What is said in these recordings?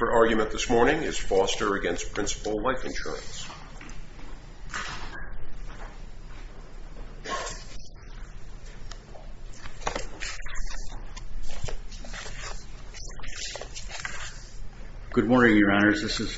The argument this morning is Foster v. Principal Life Insurance. Good morning, Your Honors. This is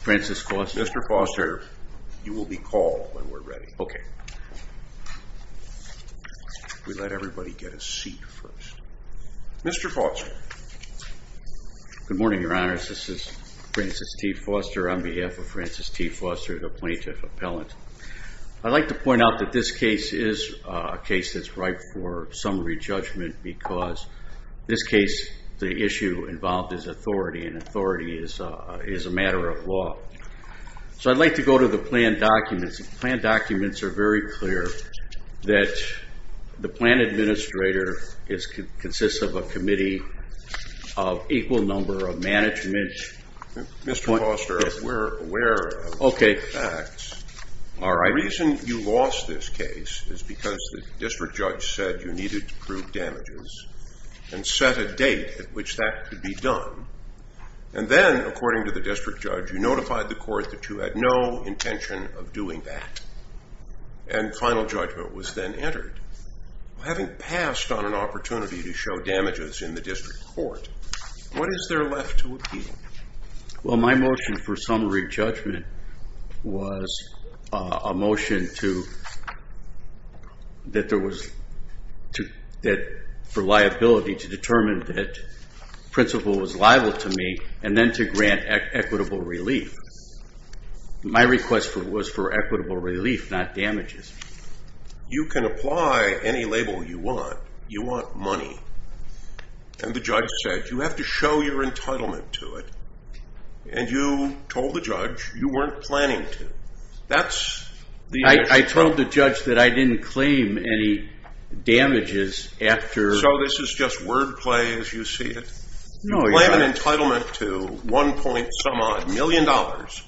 Francis Foster. Mr. Foster, you will be called when we're ready. Okay. We let everybody get a seat first. Mr. Foster. Good morning, Your Honors. This is Francis T. Foster on behalf of Francis T. Foster, the plaintiff appellant. I'd like to point out that this case is a case that's ripe for some re-judgment because this case, the issue involved is authority and authority is a matter of law. So I'd like to go to the plan documents. The plan documents are very clear that the plan administrator consists of a committee of equal number of management. Mr. Foster, if we're aware of the facts, the reason you lost this case is because the district judge said you needed to prove damages and set a date at which that could be done. And then, according to the district judge, you notified the court that you had no intention of doing that. And final judgment was then entered. Having passed on an opportunity to show damages in the district court, what is there left to appeal? Well, my motion for summary judgment was a motion for liability to determine that principal was liable to me and then to grant equitable relief. My request was for equitable relief, not damages. You can apply any label you want. You want money. And the judge said, you have to show your entitlement to it. And you told the judge you weren't planning to. That's the issue. I told the judge that I didn't claim any damages after... No, Your Honor. If you claim an entitlement to one point some odd million dollars,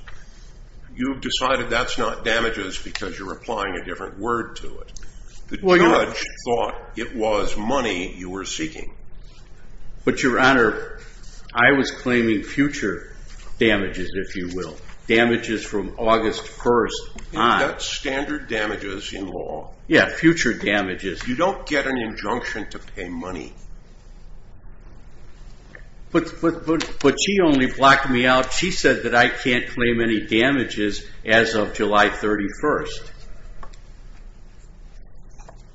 you've decided that's not damages because you're applying a different word to it. The judge thought it was money you were seeking. But Your Honor, I was claiming future damages, if you will. Damages from August 1st on. That's standard damages in law. Yeah, future damages. You don't get an injunction to pay money. But she only blocked me out. She said that I can't claim any damages as of July 31st.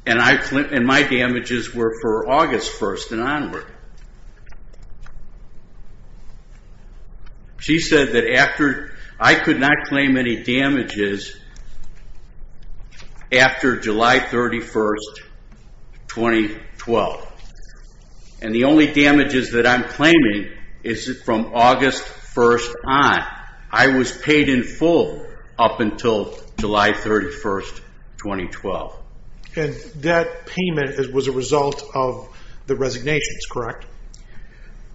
And my damages were for August 1st and onward. She said that I could not claim any damages after July 31st, 2012. And the only damages that I'm claiming is from August 1st on. I was paid in full up until July 31st, 2012. And that payment was a result of the resignations, correct?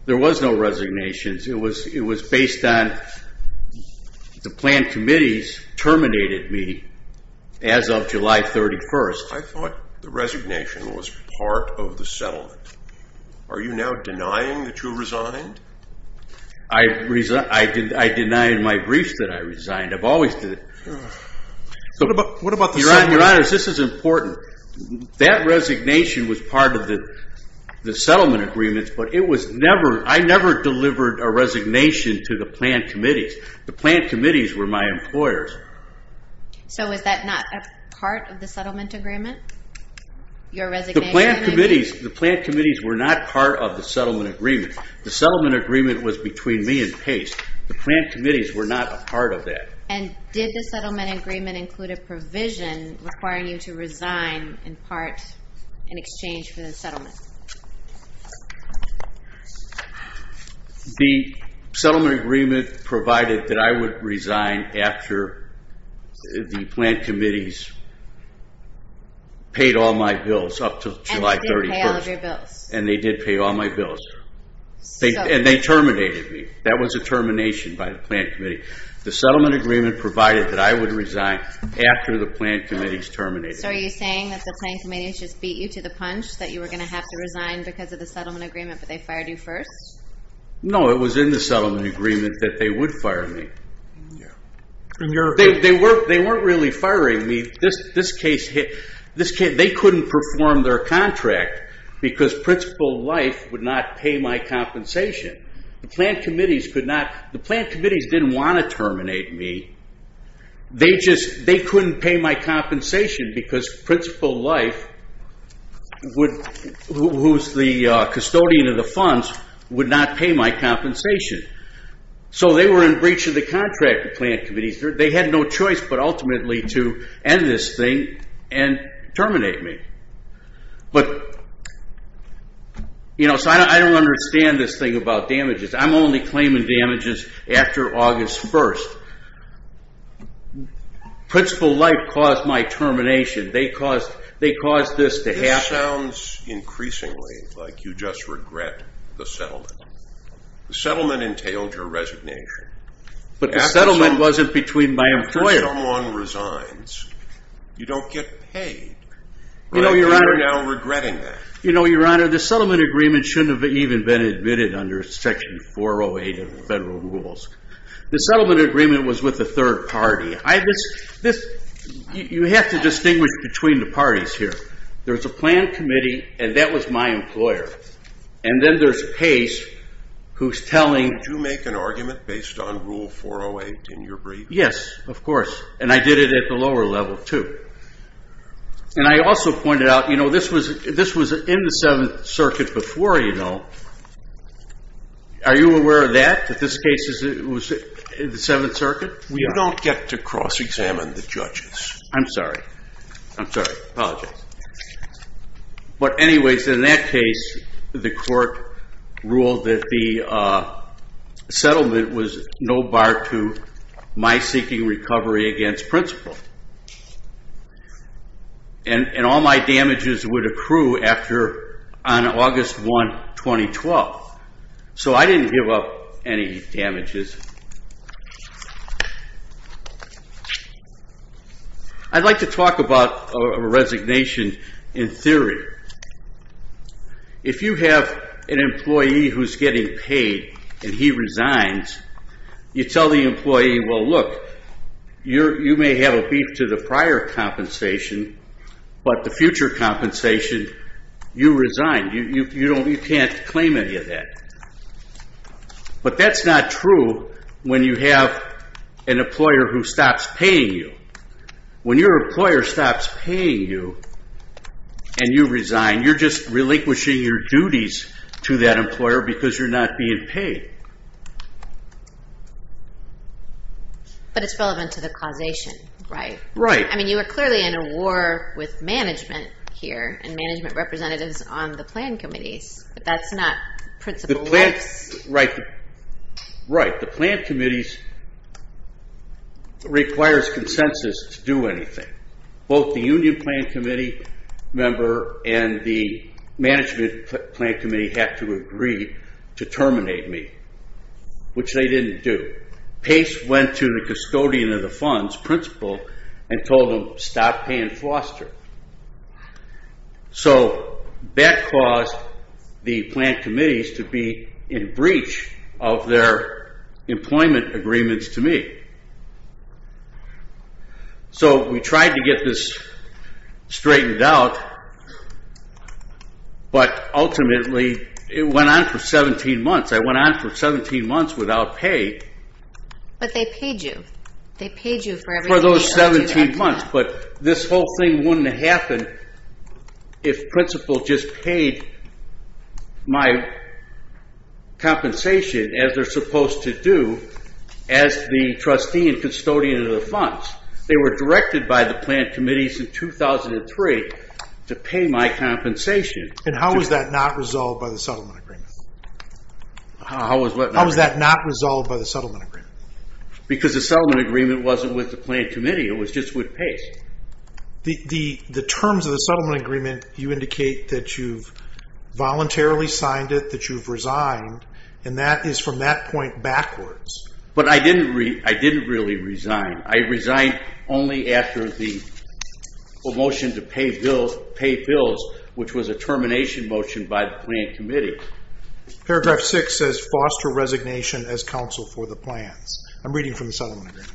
There was no resignations. It was based on the planned committees terminated me as of July 31st. I thought the resignation was part of the settlement. Are you now denying that you resigned? I deny in my briefs that I resigned. I've always did. What about the settlement? Your Honor, this is important. That resignation was part of the settlement agreements. But I never delivered a resignation to the planned committees. The planned committees were my employers. So was that not a part of the settlement agreement? Your resignation? The planned committees were not part of the settlement agreement. The settlement agreement was between me and Pace. The planned committees were not a part of that. And did the settlement agreement include a provision requiring you to resign in part in exchange for the settlement? The settlement agreement provided that I would resign after the planned committees paid all my bills up to July 31st. And they did pay all of your bills. And they did pay all my bills. And they terminated me. That was a termination by the planned committee. The settlement agreement provided that I would resign after the planned committees terminated. So are you saying that the planned committees just beat you to the punch, that you were going to have to resign because of the settlement agreement, but they fired you first? No, it was in the settlement agreement that they would fire me. They weren't really firing me. They couldn't perform their contract because principal life would not pay my compensation. The planned committees could not. The planned committees didn't want to terminate me. They just couldn't pay my compensation because principal life, who's the custodian of the funds, would not pay my compensation. So they were in breach of the contract, the planned committees. They had no choice but ultimately to end this thing and terminate me. So I don't understand this thing about damages. I'm only claiming damages after August 1st. Principal life caused my termination. They caused this to happen. This sounds increasingly like you just regret the settlement. The settlement entailed your resignation. But the settlement wasn't between my employer. After someone resigns, you don't get paid. But I think you're now regretting that. You know, Your Honor, the settlement agreement shouldn't have even been admitted under section 408 of the federal rules. The settlement agreement was with a third party. You have to distinguish between the parties here. There's a planned committee, and that was my employer. And then there's Pace, who's telling. Did you make an argument based on rule 408 in your brief? Yes, of course. And I did it at the lower level, too. And I also pointed out, you know, this was in the Seventh Circuit before, you know. Are you aware of that, that this case was in the Seventh Circuit? We don't get to cross-examine the judges. I'm sorry. I'm sorry. Apologize. But anyways, in that case, the court ruled that the settlement was no bar to my seeking recovery against principal. And all my damages would accrue on August 1, 2012. So I didn't give up any damages. I'd like to talk about a resignation in theory. If you have an employee who's getting paid, and he resigns, you tell the employee, well, look, you may have a beef to the prior compensation. But the future compensation, you resign. You can't claim any of that. But that's not true when you have an employer who stops paying you. When your employer stops paying you, and you resign, you're just relinquishing your duties to that employer because you're not being paid. But it's relevant to the causation, right? Right. I mean, you were clearly in a war with management here and management representatives on the plan committees. But that's not principal rights. Right. The plan committees requires consensus to do anything. Both the union plan committee member and the management plan committee have to agree to terminate me. Which they didn't do. Pace went to the custodian of the funds, principal, and told him, stop paying foster. So that caused the plan committees to be in breach of their employment agreements to me. So we tried to get this straightened out. But ultimately, it went on for 17 months. I went on for 17 months without pay. But they paid you. They paid you for everything. For those 17 months. But this whole thing wouldn't have happened if principal just paid my compensation, as they're supposed to do, as the trustee and custodian of the funds. They were directed by the plan committees in 2003 to pay my compensation. And how was that not resolved by the settlement agreement? How was what not resolved? How was that not resolved by the settlement agreement? Because the settlement agreement wasn't with the plan committee. It was just with Pace. The terms of the settlement agreement, you indicate that you've voluntarily signed it, that you've resigned. And that is from that point backwards. But I didn't really resign. I resigned only after the motion to pay bills, which was a termination motion by the plan committee. Paragraph 6 says, foster resignation as counsel for the plans. I'm reading from the settlement agreement.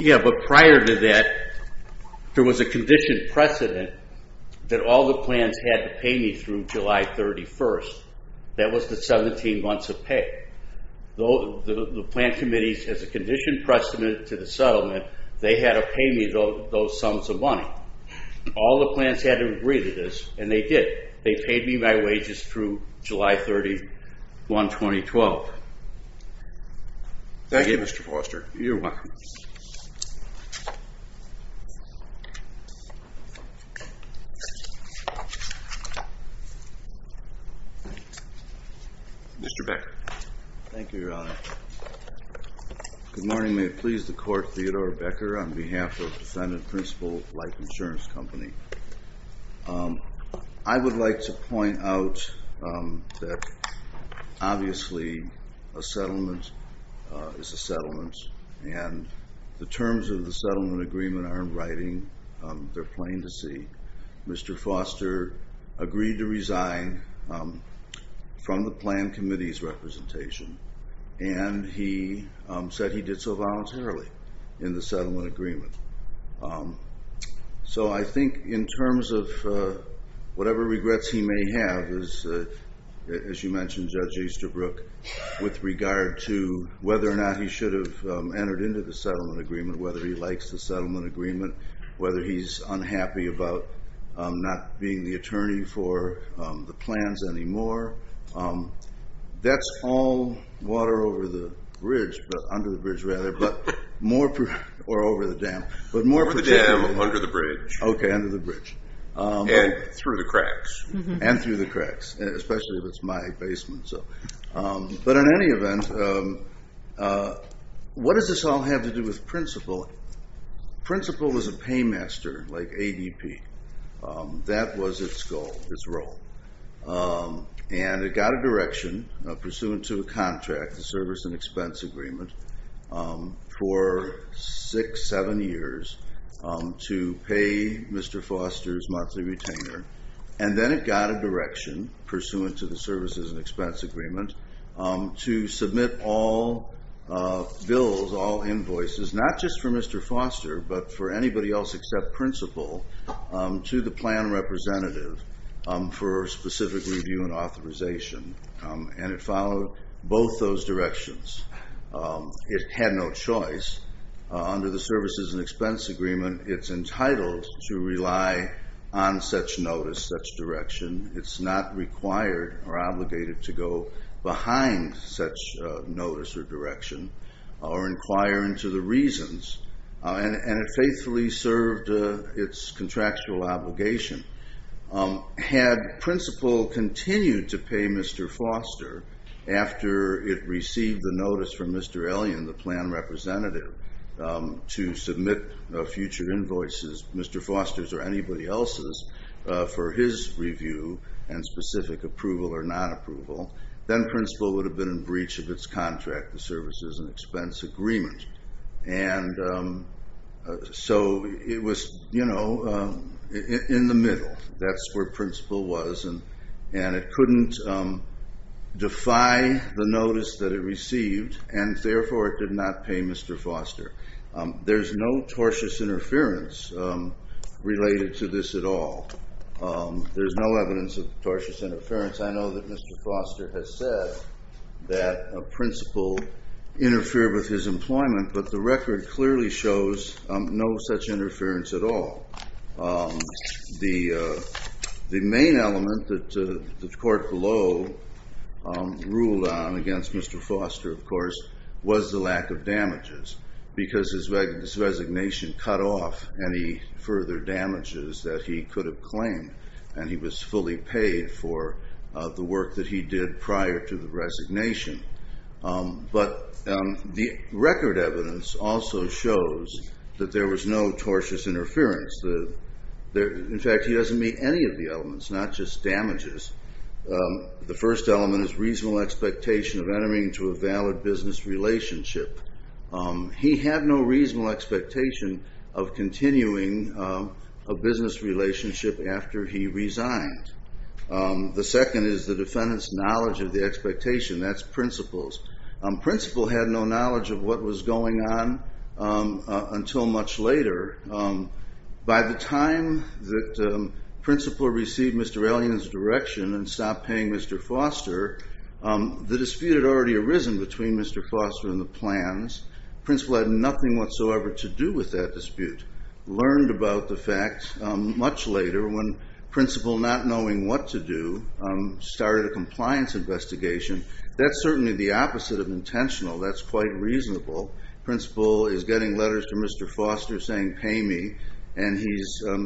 Yeah, but prior to that, there was a conditioned precedent that all the plans had to pay me through July 31. That was the 17 months of pay. Though the plan committees, as a conditioned precedent to the settlement, they had to pay me those sums of money. All the plans had to agree to this, and they did. They paid me my wages through July 31, 2012. Thank you, Mr. Foster. You're welcome. Mr. Becker. Thank you, Your Honor. Good morning. May it please the court, Theodore Becker on behalf of Defendant Principal Life Insurance Company. I would like to point out that obviously a settlement is a settlement, and the terms of the settlement agreement aren't writing. They're plain to see. Mr. Foster agreed to resign from the plan committee's representation, and he said he did so voluntarily in the settlement agreement. So I think in terms of whatever regrets he may have, as you mentioned, Judge Easterbrook, with regard to whether or not he should have entered into the settlement agreement, whether he likes the settlement agreement, whether he's unhappy about not being the attorney for the plans anymore, that's all water under the bridge. More over the dam. Over the dam, under the bridge, and through the cracks. And through the cracks, especially if it's my basement. But in any event, what does this all have to do with principal? Principal is a paymaster, like ADP. That was its goal, its role. And it got a direction pursuant to a contract, a service and expense agreement, for six, seven years to pay Mr. Foster's monthly retainer. And then it got a direction pursuant to the services and expense agreement to submit all bills, all invoices, not just for Mr. Foster, but for anybody else except principal, to the plan representative for specific review and authorization. And it followed both those directions. It had no choice. Under the services and expense agreement, it's entitled to rely on such notice, such direction. It's not required or obligated to go behind such notice or direction or inquire into the reasons. And it faithfully served its contractual obligation. Had principal continued to pay Mr. Foster after it received the notice from Mr. Ellion, the plan representative, to submit future invoices, Mr. Foster's or anybody else's, for his review and specific approval or non-approval, then principal would have been in breach of its contract, the services and expense agreement. And so it was in the middle. That's where principal was. And it couldn't defy the notice that it received. And therefore, it did not pay Mr. Foster. There's no tortious interference related to this at all. There's no evidence of tortious interference. I know that Mr. Foster has said that a principal interfered with his employment. But the record clearly shows no such interference at all. The main element that the court below ruled on against Mr. Foster, of course, was the lack of damages, because his resignation cut off any further damages that he could have claimed. And he was fully paid for the work that he did prior to the resignation. But the record evidence also shows that there was no tortious interference. In fact, he doesn't meet any of the elements, not just damages. The first element is reasonable expectation of entering into a valid business relationship. He had no reasonable expectation of continuing a business relationship after he resigned. The second is the defendant's knowledge of the expectation. That's principal's. Principal had no knowledge of what was going on until much later. By the time that principal received Mr. Ellion's direction and stopped paying Mr. Foster, the dispute had already arisen between Mr. Foster and the plans. Principal had nothing whatsoever to do with that dispute. Learned about the facts much later when principal, not knowing what to do, started a compliance investigation. That's certainly the opposite of intentional. That's quite reasonable. Principal is getting letters to Mr. Foster saying, pay me. And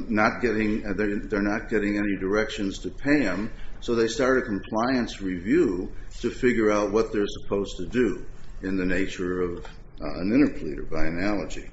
they're not getting any directions to pay him. So they start a compliance review to figure out what they're supposed to do in the nature of an interpleader, by analogy.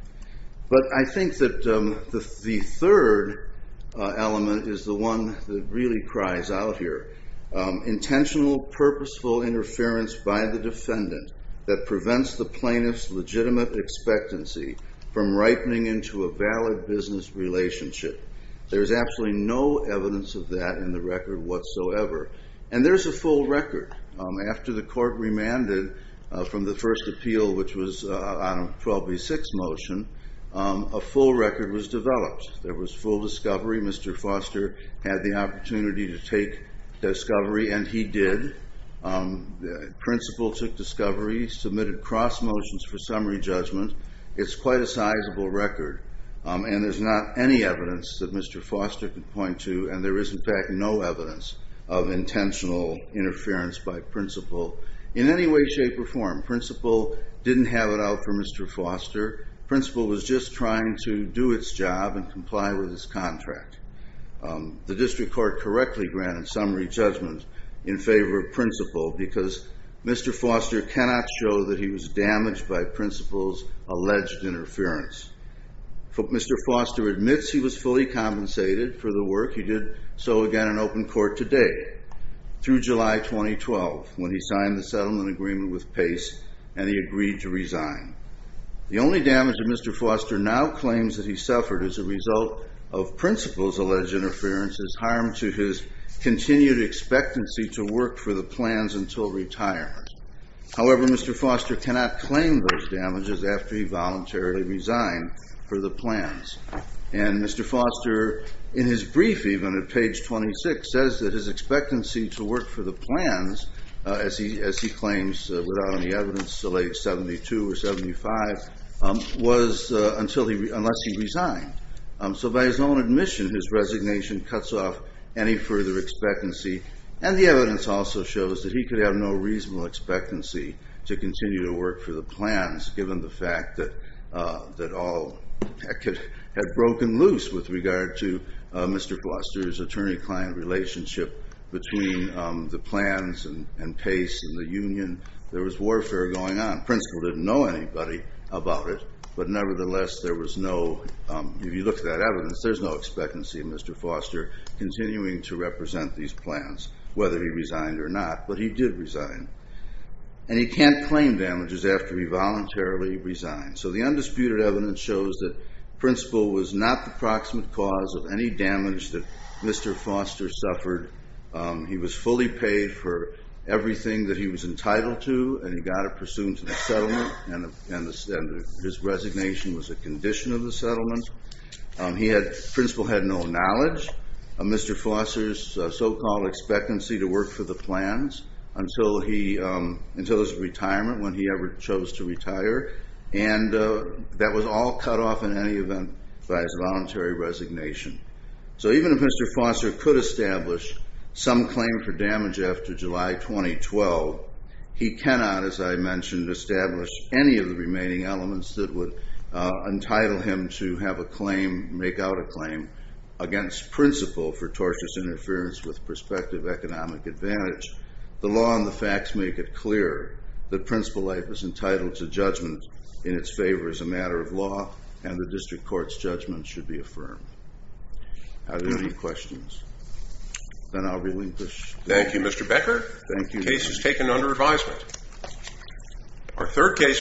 But I think that the third element is the one that really cries out here. Intentional, purposeful interference by the defendant that prevents the plaintiff's legitimate expectancy from ripening into a valid business relationship. There's absolutely no evidence of that in the record whatsoever. And there's a full record. After the court remanded from the first appeal, which was on a 12B6 motion, a full record was developed. There was full discovery. Mr. Foster had the opportunity to take discovery, and he did. Principal took discovery, submitted cross motions for summary judgment. It's quite a sizable record. And there's not any evidence that Mr. Foster could point to. And there is, in fact, no evidence of intentional interference by principal in any way, shape, or form. Principal didn't have it out for Mr. Foster. Principal was just trying to do its job and comply with his contract. The district court correctly granted summary judgment in favor of principal, because Mr. Foster cannot show that he was damaged by principal's alleged interference. Mr. Foster admits he was fully compensated for the work. He did so again in open court today, through July 2012, when he signed the settlement agreement with Pace, and he agreed to resign. The only damage that Mr. Foster now claims that he suffered as a result of principal's alleged interference is harm to his continued expectancy to work for the plans until retirement. However, Mr. Foster cannot claim those damages after he voluntarily resigned for the plans. And Mr. Foster, in his brief, even at page 26, says that his expectancy to work for the plans, as he claims without any evidence till age 72 or 75, was unless he resigned. So by his own admission, his resignation cuts off any further expectancy. And the evidence also shows that he could have no reasonable expectancy to continue to work for the plans, given the fact that all had broken loose with regard to Mr. Foster's attorney-client relationship between the plans and Pace and the union. There was warfare going on. Principal didn't know anybody about it. But nevertheless, there was no, if you look at that evidence, there's no expectancy of Mr. Foster continuing to represent these plans, whether he resigned or not. But he did resign. And he can't claim damages after he voluntarily resigned. So the undisputed evidence shows that principal was not the proximate cause of any damage that Mr. Foster suffered. He was fully paid for everything that he was entitled to, and he got it pursuant to the settlement. And his resignation was a condition of the settlement. Principal had no knowledge of Mr. Foster's so-called expectancy to work for the plans until his retirement, when he ever chose to retire. And that was all cut off in any event by his voluntary resignation. So even if Mr. Foster could establish some claim for damage after July 2012, he cannot, as I mentioned, establish any of the remaining elements that would entitle him to have a claim, make out a claim against principal for tortious interference with prospective economic advantage. The law and the facts make it clear that principal life is entitled to judgment in its favor as a matter of law, and the district court's judgment should be affirmed. Are there any questions? Then I'll relinquish. Thank you, Mr. Becker. Thank you. The case is taken under advisement. Our third case.